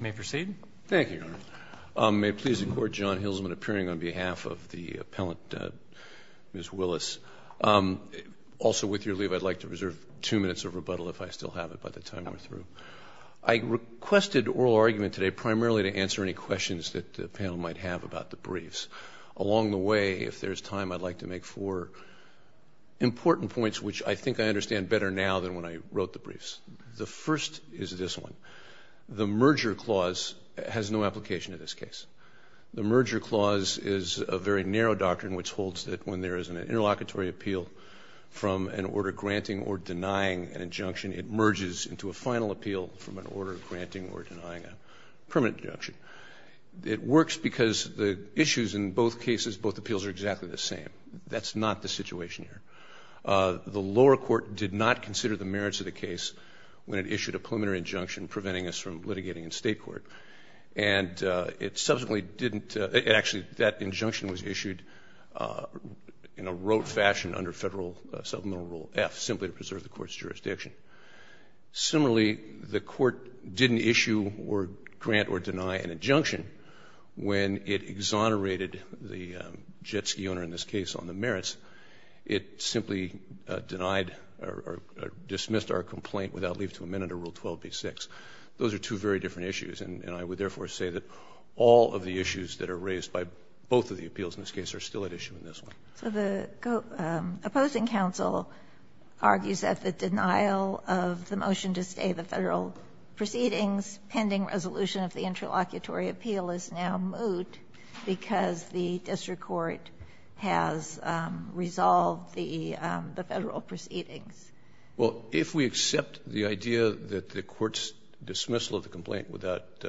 May I please record John Hillsman appearing on behalf of the appellant, Ms. Willis. Also with your leave, I'd like to reserve two minutes of rebuttal if I still have it by the time we're through. I requested oral argument today primarily to answer any questions that the panel might have about the briefs. Along the way, if there's time, I'd like to make four important points which I think I understand better now than when I wrote the briefs. The first is this one. The merger clause has no application in this case. The merger clause is a very narrow doctrine which holds that when there is an interlocutory appeal from an order granting or denying an injunction, it merges into a final appeal from an order granting or denying a permanent injunction. It works because the issues in both cases, both appeals are exactly the same. That's not the situation here. The lower court did not consider the merits of the case when it issued a preliminary injunction preventing us from litigating in state court. And it subsequently didn't, actually that injunction was issued in a rote fashion under Federal Supplemental Rule F simply to preserve the court's jurisdiction. Similarly, the court didn't issue or grant or deny an injunction when it exonerated the jet ski owner in this case on the merits. It simply denied or dismissed our complaint without leave to amend under Rule 12b-6. Those are two very different issues. And I would therefore say that all of the issues that are raised by both of the appeals in this case are still at issue in this one. So the opposing counsel argues that the denial of the motion to stay the Federal proceedings pending resolution of the interlocutory appeal is now moot because the district court has resolved the Federal proceedings. Well, if we accept the idea that the court's dismissal of the complaint without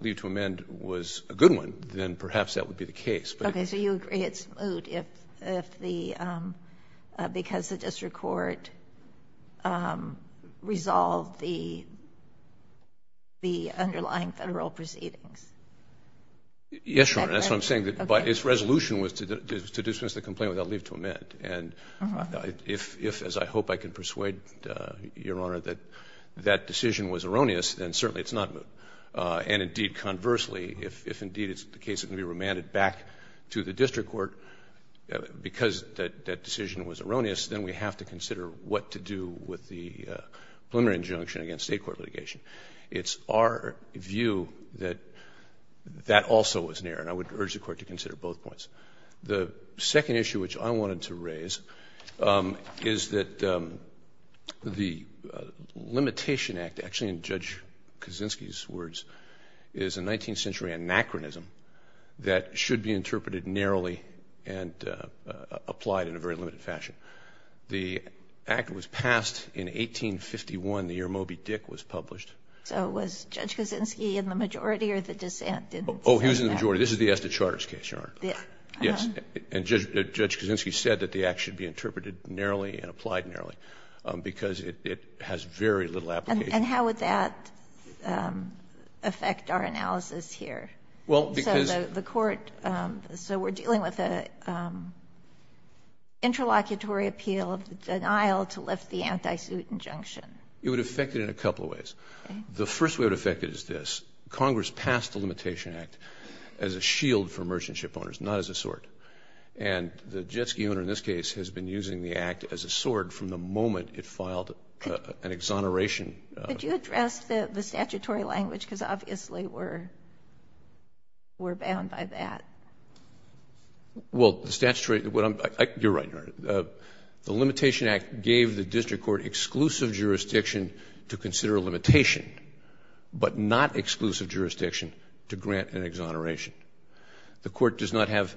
leave to amend was a good one, then perhaps that would be the case. Okay. So you agree it's moot if the, because the district court resolved the underlying Federal proceedings? Yes, Your Honor. That's what I'm saying. But its resolution was to dismiss the complaint without leave to amend. And if, as I hope I can persuade Your Honor, that that decision was erroneous, then certainly it's not moot. And indeed, conversely, if indeed it's the case that the complaint was amended back to the district court because that decision was erroneous, then we have to consider what to do with the preliminary injunction against State court litigation. It's our view that that also was an error. And I would urge the court to consider both points. The second issue which I wanted to raise is that the Limitation Act, actually in Judge Kaczynski's case, is an acronym that should be interpreted narrowly and applied in a very limited fashion. The Act was passed in 1851, the year Moby-Dick was published. So was Judge Kaczynski in the majority or the dissent? Oh, he was in the majority. This is the Estes Charter's case, Your Honor. Yes. And Judge Kaczynski said that the Act should be interpreted narrowly and applied narrowly because it has very little application. And how would that affect our analysis here? Well, because So the court, so we're dealing with an interlocutory appeal of the denial to lift the anti-suit injunction. It would affect it in a couple of ways. The first way it would affect it is this. Congress passed the Limitation Act as a shield for merchant ship owners, not as a sword. And the Jetski owner in this case has been using the Act as a sword from the moment it filed an exoneration. Could you address the statutory language? Because obviously we're bound by that. Well, the statutory, you're right, Your Honor. The Limitation Act gave the district court exclusive jurisdiction to consider a limitation, but not exclusive jurisdiction to grant an exoneration. The court does not have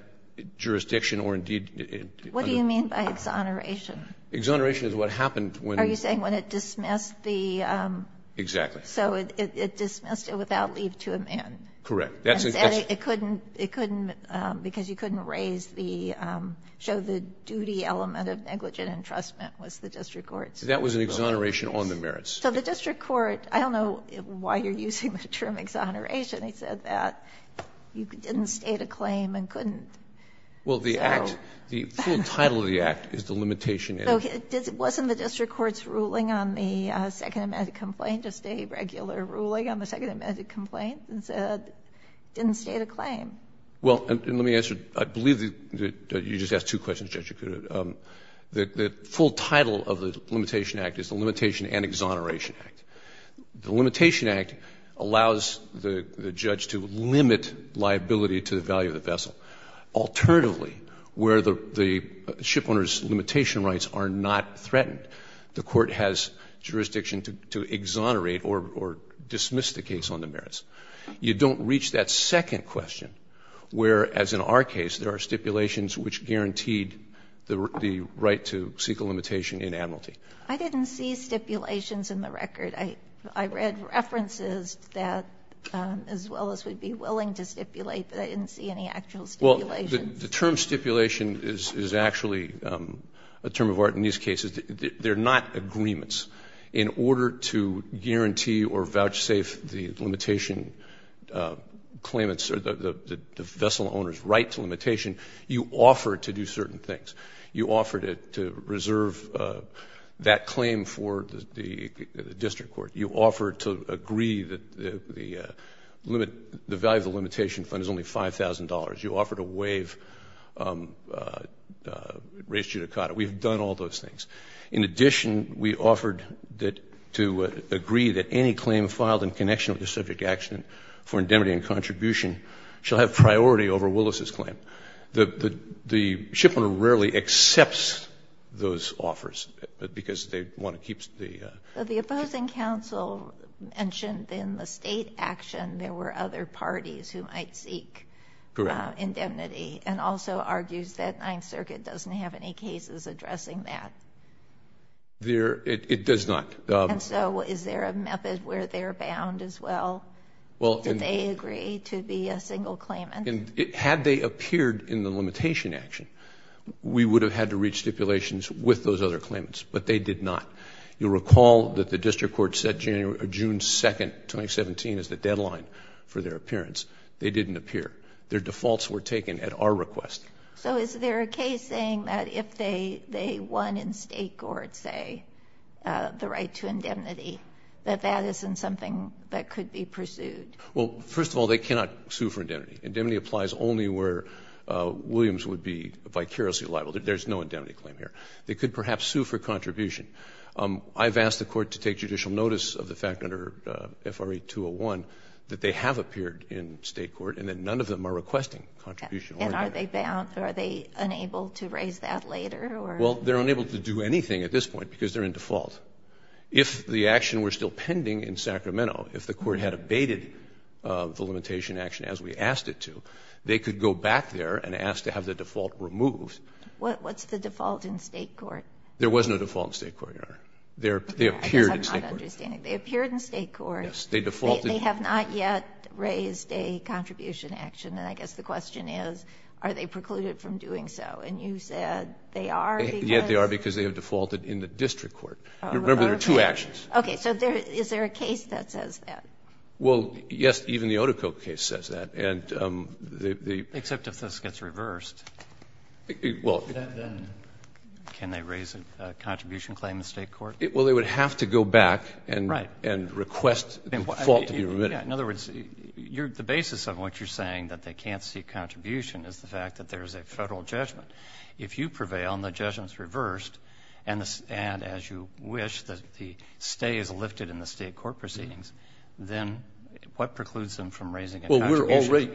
jurisdiction or indeed What do you mean by exoneration? Exoneration is what happened when What are you saying? When it dismissed the Exactly. So it dismissed it without leave to amend. Correct. That's And it couldn't, because you couldn't raise the, show the duty element of negligent entrustment was the district court. That was an exoneration on the merits. So the district court, I don't know why you're using the term exoneration. He said that you didn't state a claim and couldn't Well, the Act, the full title of the Act is the Limitation Act. So wasn't the district court's ruling on the second amendment complaint just a regular ruling on the second amendment complaint and said it didn't state a claim? Well, and let me answer. I believe that you just asked two questions, Judge. The full title of the Limitation Act is the Limitation and Exoneration Act. The Limitation Act allows the judge to limit liability to the value of the vessel. Alternatively, where the shipowner's limitation rights are not threatened, the court has jurisdiction to exonerate or dismiss the case on the merits. You don't reach that second question, where, as in our case, there are stipulations which guaranteed the right to seek a limitation in admiralty. I didn't see stipulations in the record. I read references that as well as would be willing to stipulate, but I didn't see any actual stipulations. Well, the term stipulation is actually a term of art in these cases. They're not agreements. In order to guarantee or vouchsafe the limitation claimants or the vessel owner's right to limitation, you offer to do certain things. You offer to reserve that claim for the district court. You offer to agree that the value of the limitation fund is only $5,000. You offer to raise judicata. We've done all those things. In addition, we offered to agree that any claim filed in connection with the subject action for indemnity and contribution shall have priority over Willis's claim. The shipowner rarely accepts those offers because they want to keep the... The opposing counsel mentioned in the state action there were other parties who might seek indemnity and also argues that Ninth Circuit doesn't have any cases addressing that. It does not. Is there a method where they're bound as well? Do they agree to be a single claimant? Had they appeared in the limitation action, we would have had to reach stipulations with those other claimants, but they did not. You'll recall that the district court said June 2, 2017 is the deadline for their appearance. They didn't appear. Their defaults were taken at our request. So is there a case saying that if they won in state court, say, the right to indemnity, that that isn't something that could be pursued? Well, first of all, they cannot sue for indemnity. Indemnity applies only where Williams would be vicariously liable. There's no indemnity claim here. They could perhaps sue for contribution. I've asked the court to take judicial notice of the fact under FRA 201 that they have appeared in state court and that none of them are requesting contribution. And are they bound? Are they unable to raise that later? Well, they're unable to do anything at this point because they're in default. If the action were still pending in Sacramento, if the court had abated the limitation action as we asked it to, they could go back there and ask to have the default removed. What's the default in state court? There was no default in state court, Your Honor. They appeared in state court. I'm not understanding. They appeared in state court. Yes. They defaulted. They have not yet raised a contribution action. And I guess the question is, are they precluded from doing so? And you said they are because? Yes, they are because they have defaulted in the district court. Remember, there are two actions. Okay. So is there a case that says that? Well, yes. Even the Otico case says that. Except if this gets reversed. Well. Then can they raise a contribution claim in state court? Well, they would have to go back and request the default to be remitted. In other words, the basis of what you're saying, that they can't see a contribution, is the fact that there is a Federal judgment. If you prevail and the judgment is reversed and, as you wish, the stay is lifted in the state court proceedings, then what precludes them from raising a contribution? Well, we're already.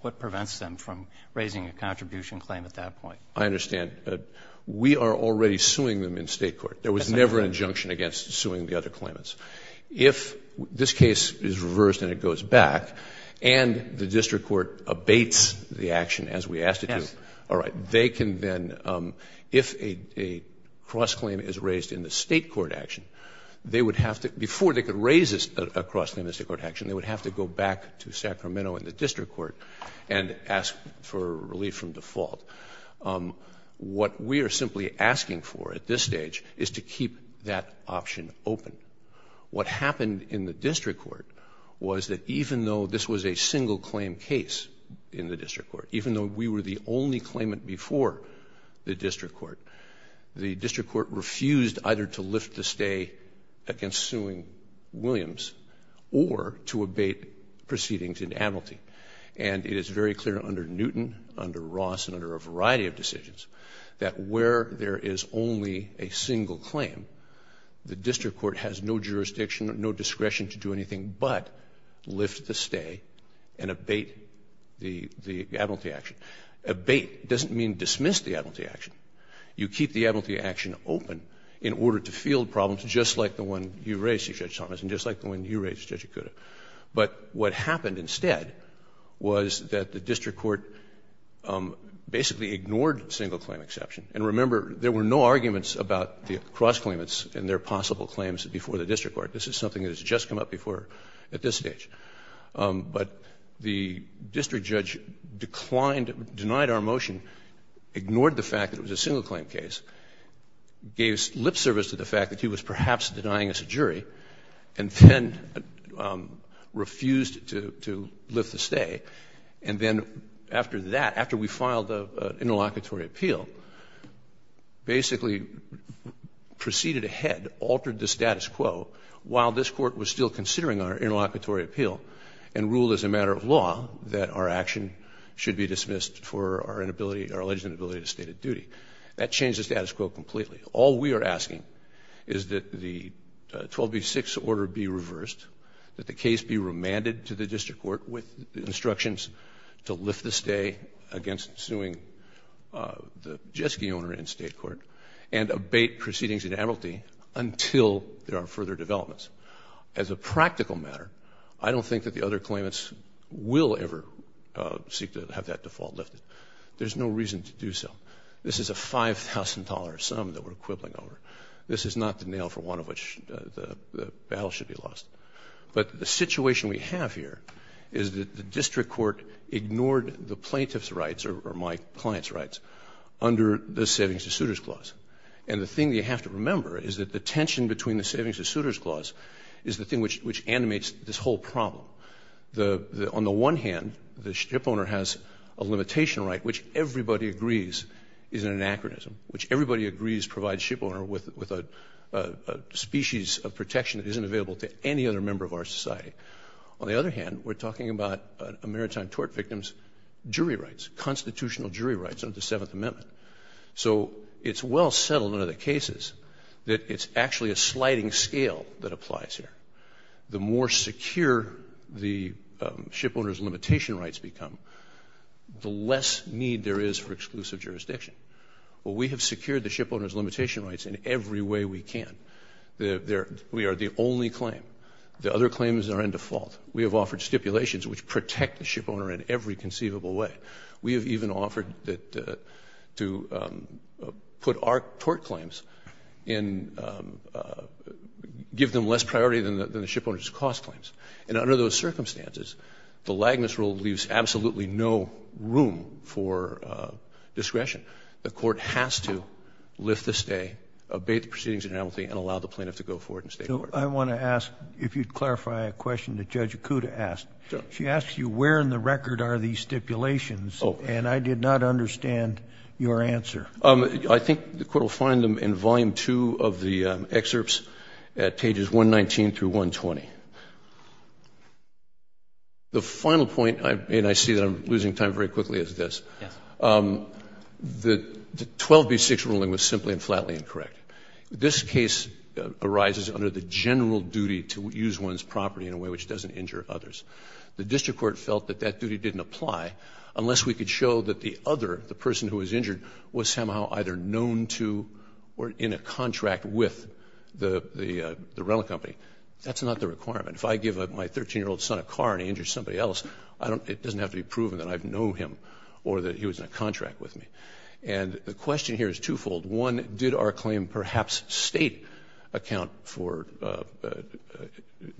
What prevents them from raising a contribution claim at that point? I understand. But we are already suing them in state court. There was never an injunction against suing the other claimants. If this case is reversed and it goes back and the district court abates the action as we asked it to, all right, they can then, if a cross-claim is raised in the state court action, they would have to, before they could raise a cross-claim in the state court action, they would have to go back to Sacramento and the district court and ask for relief from default. What we are simply asking for at this stage is to keep that option open. What happened in the district court was that even though this was a single-claim case in the district court, even though we were the only claimant before the district court, the district court refused either to lift the stay against suing Williams or to abate proceedings in the admiralty. And it is very clear under Newton, under Ross, and under a variety of decisions that where there is only a single claim, the district court has no jurisdiction, no discretion to do anything but lift the stay and abate the admiralty action. Abate doesn't mean dismiss the admiralty action. You keep the admiralty action open in order to field problems just like the one you raised, Judge Thomas, and just like the one you raised, Judge Okuda. But what happened instead was that the district court basically ignored single-claim exception. And remember, there were no arguments about the cross-claimants and their possible claims before the district court. This is something that has just come up before at this stage. But the district judge declined, denied our motion, ignored the fact that it was a single-claim case, gave lip service to the fact that he was perhaps denying us a jury, and then refused to lift the stay. And then after that, after we filed an interlocutory appeal, basically proceeded ahead, altered the status quo while this court was still considering our interlocutory appeal and ruled as a matter of law that our action should be dismissed for our alleged inability to state a duty. That changed the status quo completely. All we are asking is that the 12b-6 order be reversed, that the case be remanded to the district court with instructions to lift the stay against suing the jet ski owner in state court, and abate proceedings in admiralty until there are further developments. As a practical matter, I don't think that the other claimants will ever seek to have that default lifted. There's no reason to do so. This is a $5,000 sum that we're quibbling over. This is not the nail for one of which the battle should be lost. But the situation we have here is that the district court ignored the plaintiff's rights, or my client's rights, under the Savings to Suitors Clause. And the thing you have to remember is that the tension between the Savings to Suitors Clause is the thing which animates this whole problem. On the one hand, the ship owner has a limitation right, which everybody agrees is an anachronism, which everybody agrees provides ship owner with a species of protection that isn't available to any other member of our society. On the other hand, we're talking about maritime tort victims' jury rights, constitutional jury rights under the Seventh Amendment. So it's well settled under the cases that it's actually a sliding scale that applies here. The more secure the ship owner's limitation rights become, the less need there is for exclusive jurisdiction. Well, we have secured the ship owner's limitation rights in every way we can. We are the only claim. The other claims are in default. We have offered stipulations which protect the ship owner in every conceivable way. We have even offered to put our tort claims in – give them less priority than the ship owner's cost claims. And under those circumstances, the Lagnus rule leaves absolutely no room for discretion. The court has to lift the stay, obey the proceedings in amnesty, and allow the plaintiff to go forward and stay in court. I want to ask, if you'd clarify a question that Judge Acuda asked. Sure. She asked you where in the record are these stipulations, and I did not understand your answer. I think the court will find them in Volume 2 of the excerpts at pages 119 through 120. The final point, and I see that I'm losing time very quickly, is this. Yes. The 12B6 ruling was simply and flatly incorrect. This case arises under the general duty to use one's property in a way which doesn't injure others. The district court felt that that duty didn't apply unless we could show that the other, the person who was injured, was somehow either known to or in a contract with the rental company. That's not the requirement. If I give my 13-year-old son a car and he injures somebody else, it doesn't have to be proven that I know him or that he was in a contract with me. And the question here is twofold. One, did our claim perhaps State account for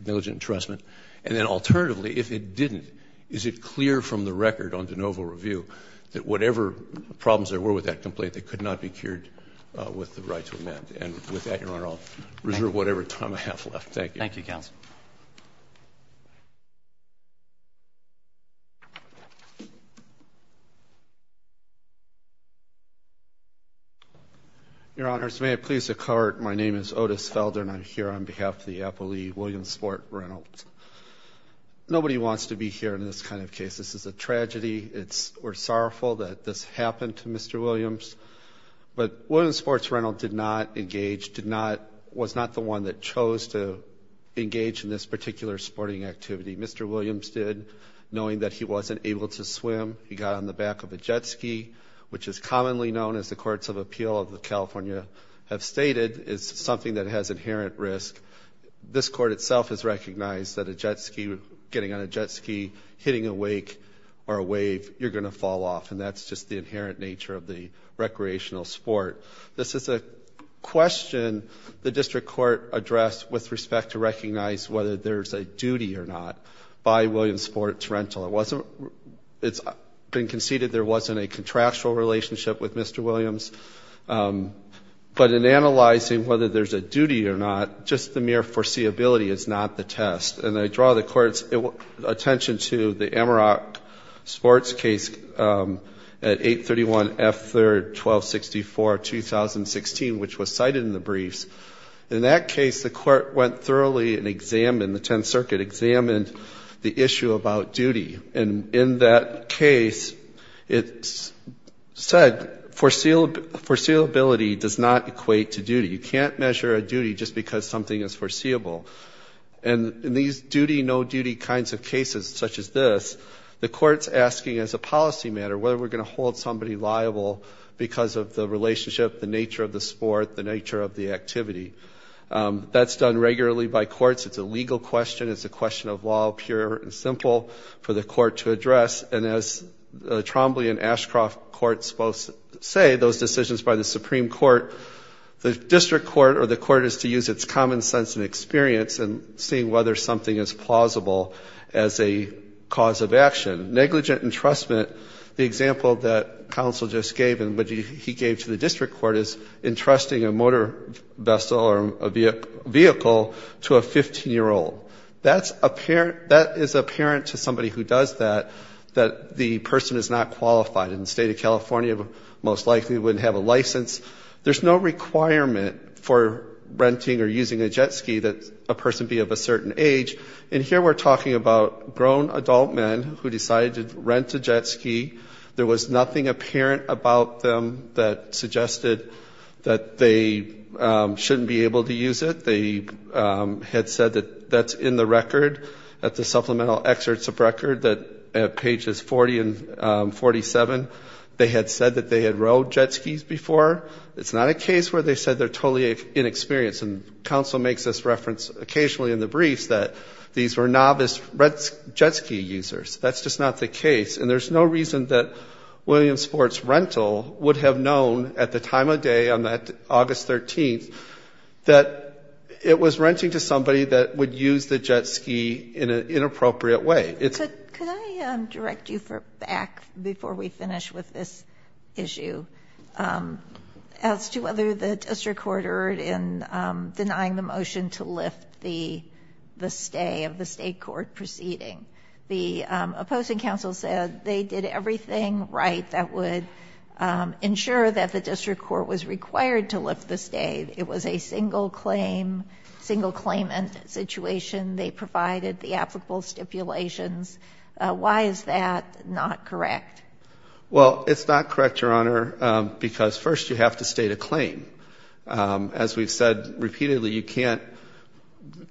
diligent entrustment? And then alternatively, if it didn't, is it clear from the record on de novo review that whatever problems there were with that complaint, they could not be cured with the right to amend? And with that, Your Honor, I'll reserve whatever time I have left. Thank you. Thank you, Counsel. Your Honors, may it please the Court, my name is Otis Felder and I'm here on behalf of the appellee, William Sport Reynolds. Nobody wants to be here in this kind of case. This is a tragedy. We're sorrowful that this happened to Mr. Williams. But William Sports Reynolds did not engage, did not, was not the one that chose to engage in this particular sporting activity. Mr. Williams did, knowing that he wasn't able to swim. He got on the back of a jet ski, which is commonly known, as the Courts of Appeal of California have stated, is something that has inherent risk. This Court itself has recognized that a jet ski, getting on a jet ski, hitting a wake or a wave, you're going to fall off. And that's just the inherent nature of the recreational sport. This is a question the District Court addressed with respect to recognize whether there's a duty or not by William Sports Reynolds. It's been conceded there wasn't a contractual relationship with Mr. Williams. But in analyzing whether there's a duty or not, just the mere foreseeability is not the test. And I draw the Court's attention to the Amarok sports case at 831 F. 3rd, 1264, 2016, which was cited in the briefs. In that case, the Court went thoroughly and examined, the Tenth Circuit examined, the issue about duty. And in that case, it said, foreseeability does not equate to duty. You can't measure a duty just because something is foreseeable. And in these duty, no duty kinds of cases such as this, the Court's asking as a policy matter whether we're going to hold somebody liable because of the relationship, the nature of the sport, the nature of the activity. That's done regularly by courts. It's a legal question. It's a question of law, pure and simple for the Court to address. And as Trombley and Ashcroft courts both say, those decisions by the Supreme Court, the whether something is plausible as a cause of action. Negligent entrustment, the example that counsel just gave and what he gave to the district court is entrusting a motor vessel or a vehicle to a 15-year-old. That is apparent to somebody who does that, that the person is not qualified. In the state of California, most likely wouldn't have a license. There's no requirement for renting or using a jet ski that a person be of a certain age. And here we're talking about grown adult men who decided to rent a jet ski. There was nothing apparent about them that suggested that they shouldn't be able to use it. They had said that that's in the record at the supplemental excerpts of record at pages 40 and 47. They had said that they had rode jet skis before. It's not a case where they said they're totally inexperienced. And counsel makes this reference occasionally in the briefs that these were novice jet ski users. That's just not the case. And there's no reason that Williams Sports Rental would have known at the time of day on that August 13th that it was renting to somebody that would use the jet ski in an inappropriate way. Could I direct you back before we finish with this issue? As to whether the district court erred in denying the motion to lift the stay of the state court proceeding. The opposing counsel said they did everything right that would ensure that the district court was required to lift the stay. It was a single claim, single claimant situation. They provided the applicable stipulations. Why is that not correct? Well, it's not correct, Your Honor, because first you have to state a claim. As we've said repeatedly, you can't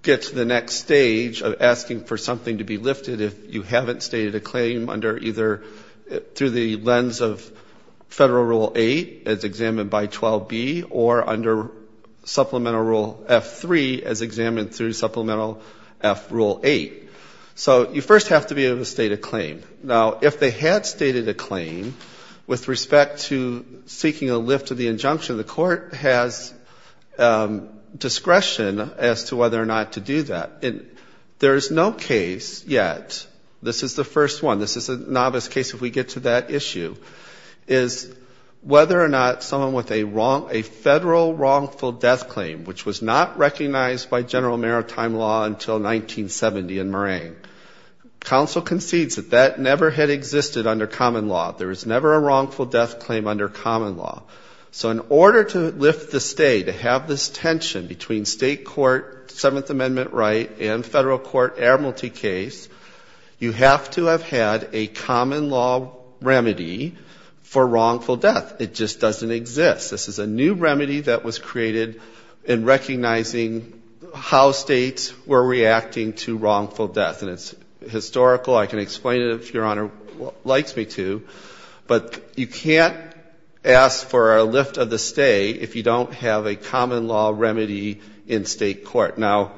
get to the next stage of asking for something to be lifted if you haven't stated a claim under either through the lens of Federal Rule 8 as examined by 12B or under Supplemental Rule F3 as examined through Supplemental F Rule 8. So you first have to be able to state a claim. Now, if they had stated a claim with respect to seeking a lift of the injunction, the court has discretion as to whether or not to do that. There is no case yet, this is the first one, this is a novice case if we get to that issue, is whether or not someone with a federal wrongful death claim, which was not recognized by general maritime law until 1970 in Moraine. Counsel concedes that that never had existed under common law. There was never a wrongful death claim under common law. So in order to lift the stay, to have this tension between State Court Seventh Amendment right and Federal Court Admiralty case, you have to have had a common law remedy for wrongful death. It just doesn't exist. This is a new remedy that was created in recognizing how states were reacting to wrongful death. And it's historical. I can explain it if Your Honor likes me to. But you can't ask for a lift of the stay if you don't have a common law remedy in State Court. Now,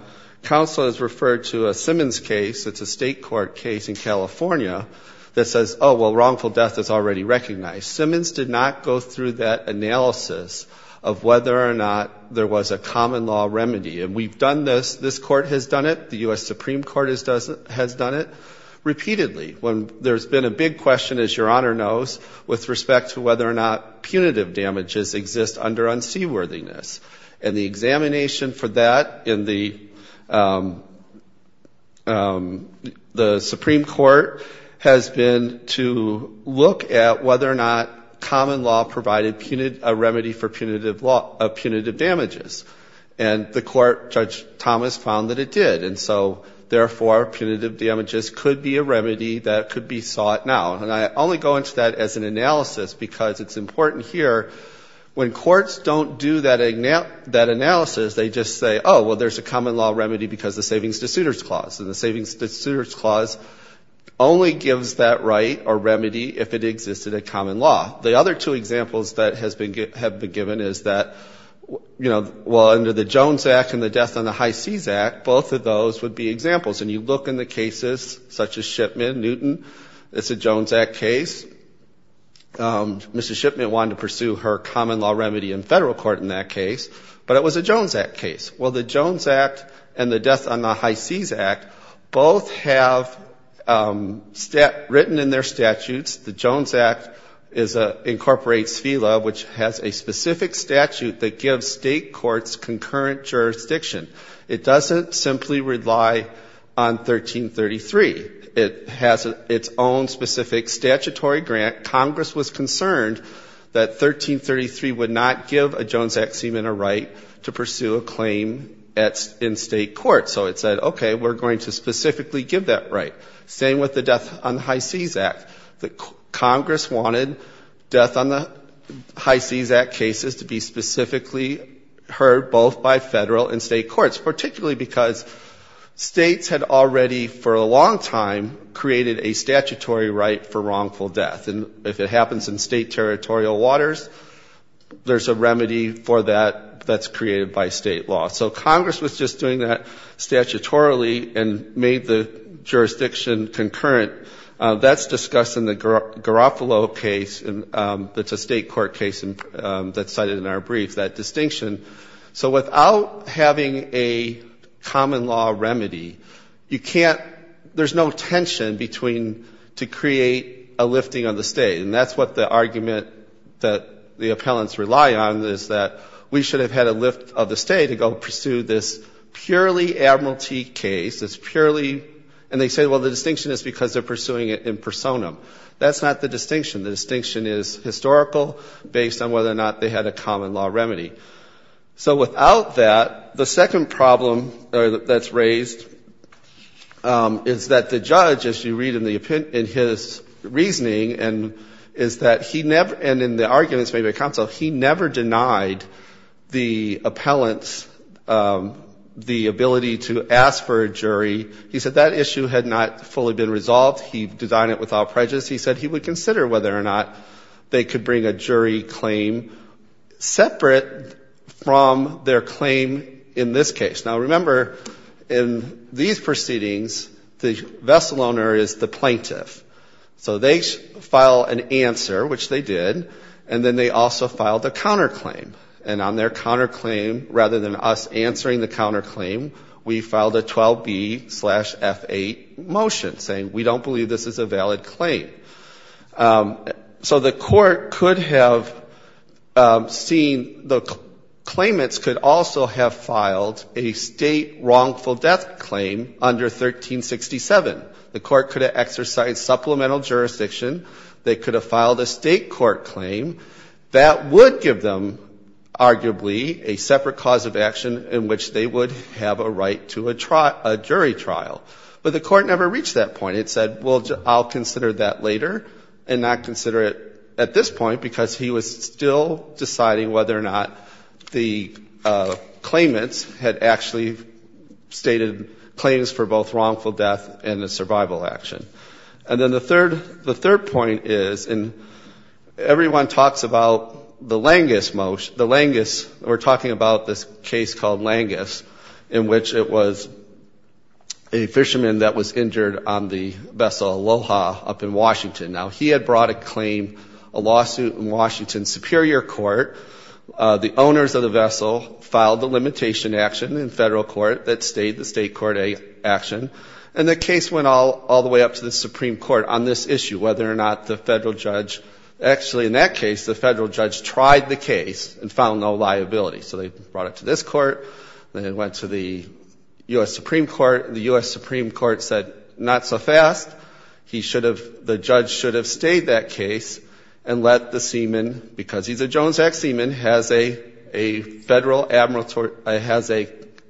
counsel has referred to a Simmons case, it's a State Court case in California, that says, oh, well, wrongful death is already recognized. Simmons did not go through that analysis of whether or not there was a common law remedy. And we've done this, this court has done it, the U.S. Supreme Court has done it, repeatedly. There's been a big question, as Your Honor knows, with respect to whether or not punitive damages exist under unseaworthiness. And the examination for that in the Supreme Court has been to look at whether or not common law provided a remedy for punitive damages. And the court, Judge Thomas, found that it did. And so, therefore, punitive damages could be a remedy that could be sought now. And I only go into that as an analysis because it's important here. When courts don't do that analysis, they just say, oh, well, there's a common law remedy because of the Savings-to-Suitors Clause. And the Savings-to-Suitors Clause only gives that right or remedy if it existed in common law. The other two examples that have been given is that, you know, well, under the Jones Act and the Death on the High Seas Act, both of those would be examples. And you look in the cases such as Shipman, Newton, it's a Jones Act case. Mr. Shipman wanted to pursue her common law remedy in federal court in that case. But it was a Jones Act case. Well, the Jones Act and the Death on the High Seas Act both have written in their statutes, the Jones Act incorporates FELA, which has a specific statute that gives state courts concurrent jurisdiction. It doesn't simply rely on 1333. It has its own specific statutory grant. Congress was concerned that 1333 would not give a Jones Act seaman a right to pursue a claim in state court. So it said, okay, we're going to specifically give that right. Same with the Death on the High Seas Act. Congress wanted Death on the High Seas Act cases to be specifically heard both by federal and state courts, particularly because states had already for a long time created a statutory right for wrongful death. And if it happens in state territorial waters, there's a remedy for that that's created by state law. So Congress was just doing that statutorily and made the jurisdiction concurrent. That's discussed in the Garofalo case. It's a state court case that's cited in our brief, that distinction. So without having a common law remedy, you can't ‑‑ there's no tension between to create a lifting of the state. And that's what the argument that the appellants rely on is that we should have had a lift of the state to go pursue this purely Admiralty case. It's purely ‑‑ and they say, well, the distinction is because they're pursuing it in personam. That's not the distinction. The distinction is historical based on whether or not they had a common law remedy. So without that, the second problem that's raised is that the judge, as you read in his reasoning, is that he never ‑‑ and in the arguments made by counsel, he never denied the appellants the ability to ask for a jury. He said that issue had not fully been resolved. He designed it without prejudice. He said he would consider whether or not they could bring a jury claim separate from their claim in this case. Now, remember, in these proceedings, the vessel owner is the plaintiff. So they file an answer, which they did, and then they also filed a counterclaim. And on their counterclaim, rather than us answering the counterclaim, we filed a 12B‑F8 motion saying we don't believe this is a valid claim. So the court could have seen ‑‑ the claimants could also have filed a state wrongful death claim under 1367. The court could have exercised supplemental jurisdiction. They could have filed a state court claim. That would give them, arguably, a separate cause of action in which they would have a right to a jury trial. But the court never reached that point. It said, well, I'll consider that later and not consider it at this point because he was still deciding whether or not the claimants had actually stated claims for both wrongful death and a survival action. And then the third point is, and everyone talks about the Langus motion. We're talking about this case called Langus in which it was a fisherman that was injured on the vessel Aloha up in Washington. Now, he had brought a claim, a lawsuit, in Washington Superior Court. The owners of the vessel filed the limitation action in federal court that stayed the state court action. And the case went all the way up to the Supreme Court on this issue, whether or not the federal judge ‑‑ actually, in that case, the federal judge tried the case and found no liability. So they brought it to this court. Then it went to the U.S. Supreme Court. The U.S. Supreme Court said, not so fast. He should have ‑‑ the judge should have stayed that case and let the seaman, because he's a Jones Act seaman, has a federal ‑‑ has a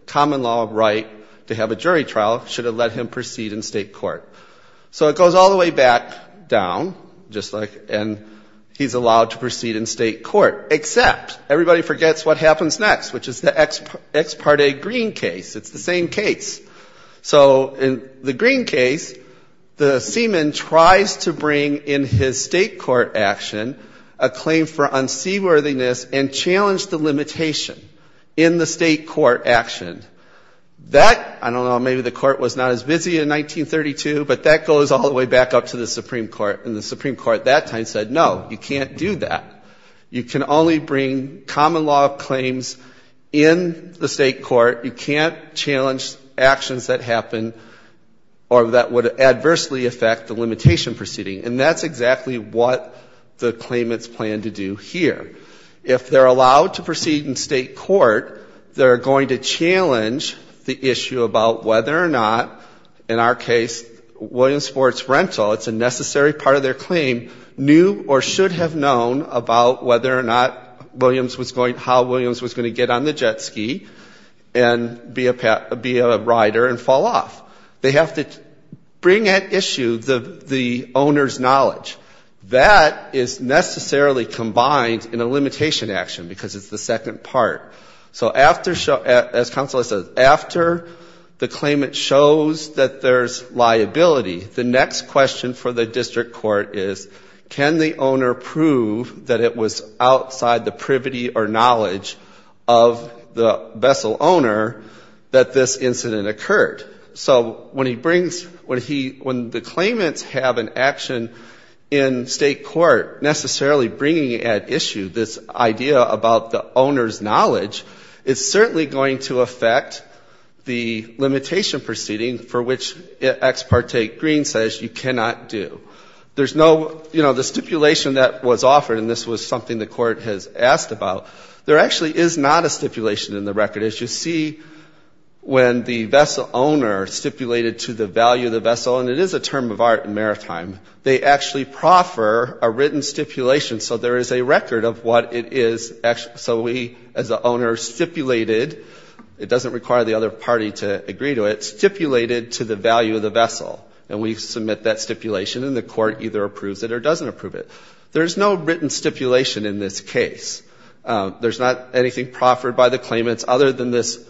common law right to have a jury trial, should have let him proceed in state court. So it goes all the way back down, just like ‑‑ and he's allowed to proceed in state court. Except everybody forgets what happens next, which is the Ex Parte Green case. It's the same case. So in the Green case, the seaman tries to bring in his state court action a claim for unseaworthiness and challenged the limitation in the state court action. That, I don't know, maybe the court was not as busy in 1932, but that goes all the way back up to the Supreme Court. And the Supreme Court at that time said, no, you can't do that. You can only bring common law claims in the state court. You can't challenge actions that happen or that would adversely affect the limitation proceeding. And that's exactly what the claimants plan to do here. If they're allowed to proceed in state court, they're going to challenge the issue about whether or not, in our case, Williams Sports Rental, it's a necessary part of their claim, knew or should have known about whether or not there was a point how Williams was going to get on the jet ski and be a rider and fall off. They have to bring at issue the owner's knowledge. That is necessarily combined in a limitation action, because it's the second part. So after, as counsel has said, after the claimant shows that there's liability, the next question for the district court is, can the owner prove that it was outside the privity or knowledge of the vessel owner that this incident occurred? So when he brings, when he, when the claimants have an action in state court necessarily bringing at issue this idea about the owner's knowledge, it's certainly going to affect the limitation proceeding for which it ex parte grew. So what the screen says, you cannot do. There's no, you know, the stipulation that was offered, and this was something the court has asked about, there actually is not a stipulation in the record. As you see, when the vessel owner stipulated to the value of the vessel, and it is a term of art in maritime, they actually proffer a written stipulation. So there is a record of what it is. So we, as the owner, stipulated, it and we submit that stipulation, and the court either approves it or doesn't approve it. There's no written stipulation in this case. There's not anything proffered by the claimants other than this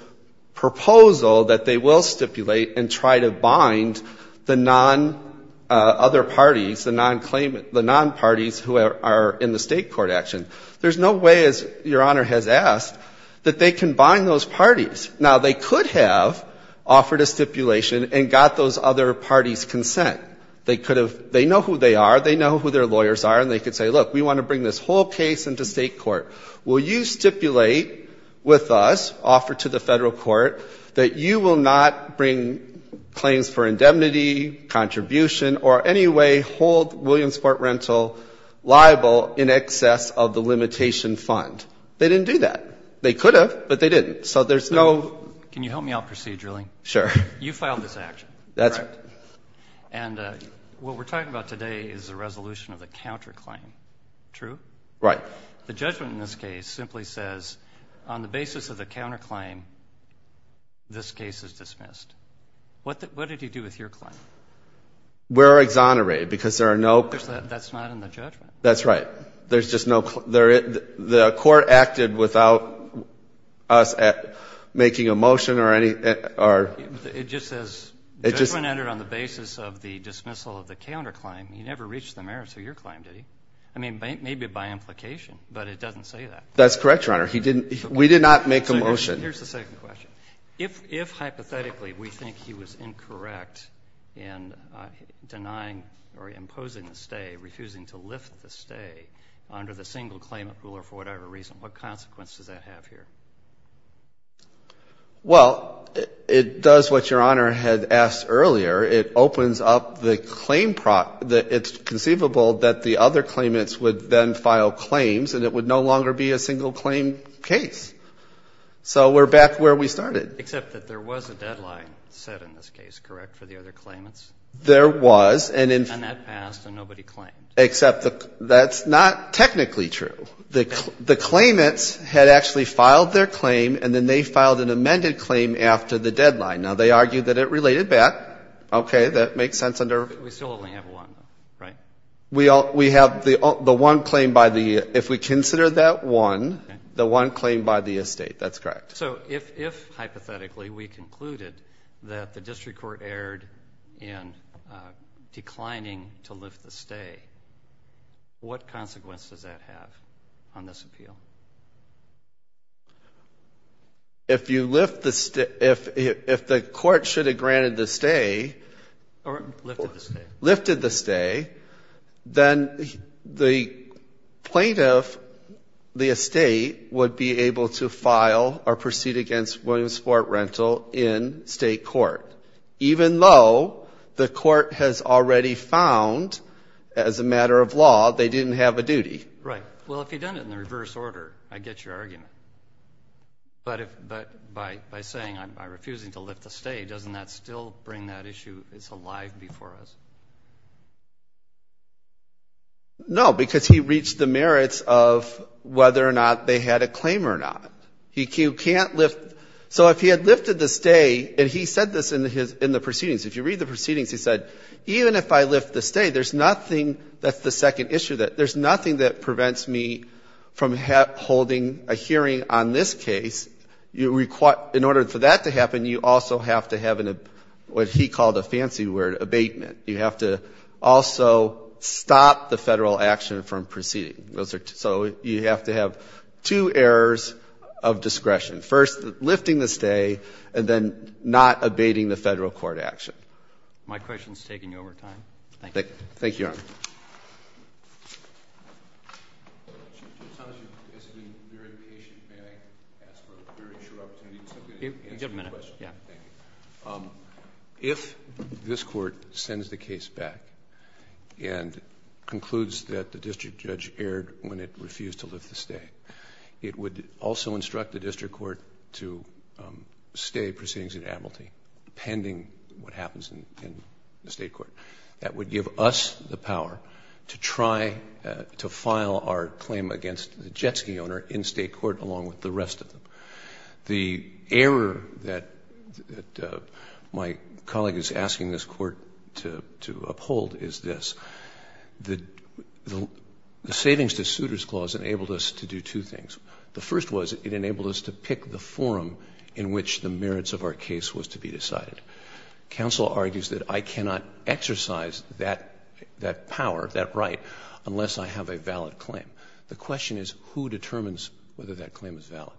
proposal that they will stipulate and try to bind the non, other parties, the non-claimant, the non-parties who are in the state court action. There's no way, as Your Honor has asked, that they can bind those parties. Now, they could have offered a stipulation and got those other parties' consent. They could have, they know who they are, they know who their lawyers are, and they could say, look, we want to bring this whole case into state court. Will you stipulate with us, offer to the federal court, that you will not bring claims for indemnity, contribution, or any way hold Williamsport Rental liable in excess of the limitation fund? They didn't do that. They could have, but they didn't. So there's no... And what we're talking about today is the resolution of the counterclaim. True? Right. The judgment in this case simply says, on the basis of the counterclaim, this case is dismissed. What did you do with your claim? We're exonerated, because there are no... That's not in the judgment. That's right. There's just no... The court acted without us making a motion or any... It just says, judgment entered on the basis of the dismissal of the counterclaim. He never reached the merits of your claim, did he? I mean, maybe by implication, but it doesn't say that. That's correct, Your Honor. We did not make a motion. Here's the second question. If, hypothetically, we think he was incorrect in denying or imposing the stay, refusing to lift the stay under the single claimant rule, or for whatever reason, what consequence does that have here? Well, it does what Your Honor had asked earlier. It opens up the claim... It's conceivable that the other claimants would then file claims, and it would no longer be a single claim case. So we're back where we started. Except that there was a deadline set in this case, correct, for the other claimants? There was. And that passed, and nobody claimed. Except that's not technically true. The claimants had actually filed their claim, and then they filed an amended claim after the deadline. Now, they argued that it related back. Okay, that makes sense under... So, if, hypothetically, we concluded that the district court erred in declining to lift the stay, what consequence does that have on this appeal? If you lift the stay... If the court should have granted the stay... Lifted the stay. Lifted the stay, then the plaintiff, the estate, would be able to file or proceed against Williamsport rental in state court. Even though the court has already found, as a matter of law, they didn't have a duty. Right. Well, if you'd done it in the reverse order, I get your argument. But by saying, by refusing to lift the stay, doesn't that still bring that issue alive before us? No, because he reached the merits of whether or not they had a claim or not. He can't lift... So if he had lifted the stay, and he said this in the proceedings, if you read the proceedings, he said, even if I lift the stay, there's nothing... That's the second issue. There's nothing that prevents me from holding a hearing on this case. In order for that to happen, you also have to have what he called a fancy word, abatement. You have to have an abatement. You have to also stop the Federal action from proceeding. So you have to have two errors of discretion. First, lifting the stay, and then not abating the Federal court action. My question is taking over time. Thank you. Thank you, Your Honor. Chief, it sounds as if you've been very patient. May I ask for a very short opportunity to answer your question? If this Court sends the case back, and concludes that the District Judge erred when it refused to lift the stay, it would also instruct the District Court to stay proceedings in amnesty, pending what happens in the State Court. That would give us the power to try to file our claim against the jet ski owner in State Court, along with the rest of them. The error that my colleague is asking this Court to uphold is this. The savings to suitors clause enabled us to do two things. The first was it enabled us to pick the forum in which the merits of our case was to be decided. Counsel argues that I cannot exercise that power, that right, unless I have a valid claim. The question is who determines whether that claim is valid.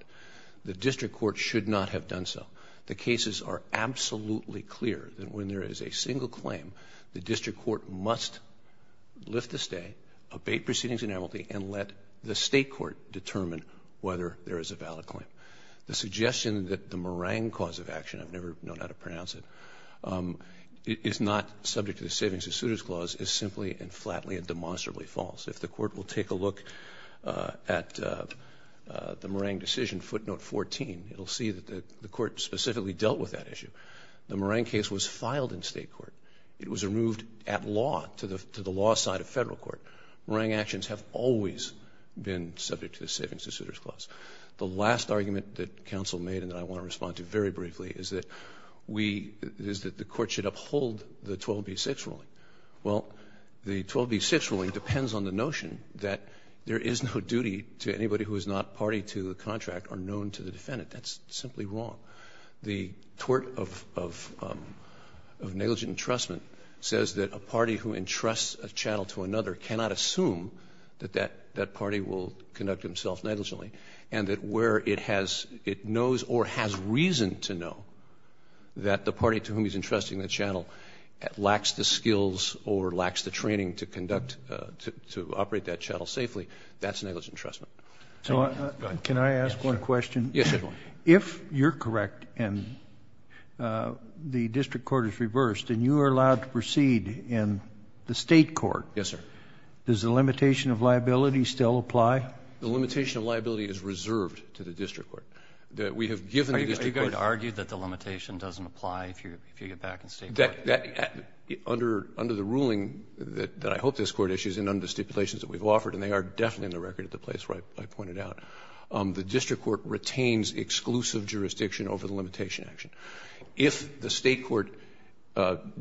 The District Court should not have done so. The cases are absolutely clear that when there is a single claim, the District Court must lift the stay, abate proceedings in amnesty, and let the State Court determine whether there is a valid claim. The fact that the claim is not subject to the savings to suitors clause is simply and flatly and demonstrably false. If the Court will take a look at the Morang decision, footnote 14, it will see that the Court specifically dealt with that issue. The Morang case was filed in State Court. It was removed at law, to the law side of Federal Court. Morang actions have always been subject to the savings to suitors clause. The last argument that counsel made and that I want to respond to very briefly is that we, is that the Court should uphold the 12B6 ruling. Well, the 12B6 ruling depends on the notion that there is no duty to anybody who is not party to the contract or known to the defendant. That's simply wrong. The tort of negligent entrustment says that a party who entrusts a channel to another cannot assume that that party will conduct himself negligently. And that where it has, it knows or has reason to know that the party to whom he's entrusting the channel lacks the skills or lacks the training to conduct, to operate that channel safely, that's negligent entrustment. So, can I ask one question? Yes, sir. If you're correct and the District Court is reversed and you are allowed to proceed in the State Court, does the limitation of liability still apply? The limitation of liability is reserved to the District Court. You could argue that the limitation doesn't apply if you get back in State Court. That, under the ruling that I hope this Court issues and under the stipulations that we've offered, and they are definitely in the record at the place where I pointed out, the District Court retains exclusive jurisdiction over the limitation action. If the State Court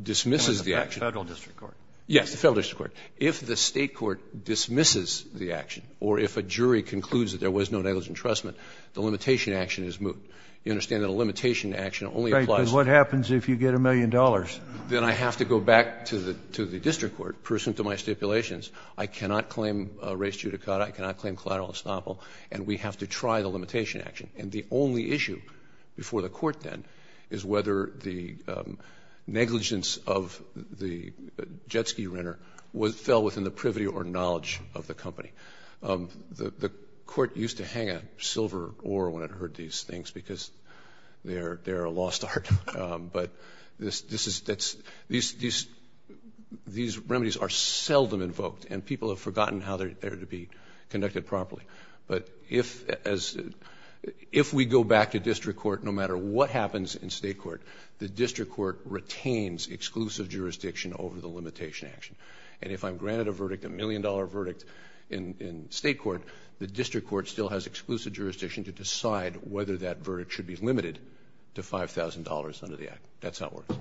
dismisses the action. Federal District Court. Yes, the Federal District Court. If the State Court dismisses the action or if a jury concludes that there was no negligent entrustment, the limitation action is moot. You understand that a limitation action only applies. Right, because what happens if you get a million dollars? Then I have to go back to the District Court pursuant to my stipulations. I cannot claim res judicata, I cannot claim collateral estoppel, and we have to try the limitation action. And the only issue before the Court then is whether the negligence of the jet ski renter fell within the privity or knowledge of the company. The Court used to hang a silver oar when it heard these things because they're a lost art. These remedies are seldom invoked and people have forgotten how they're to be conducted properly. If we go back to District Court, no matter what happens in State Court, the District Court retains exclusive jurisdiction over the limitation action. And if I'm granted a verdict, a million dollar verdict in State Court, the District Court still has exclusive jurisdiction to decide whether that verdict should be limited to $5,000 under the Act. That's how it works.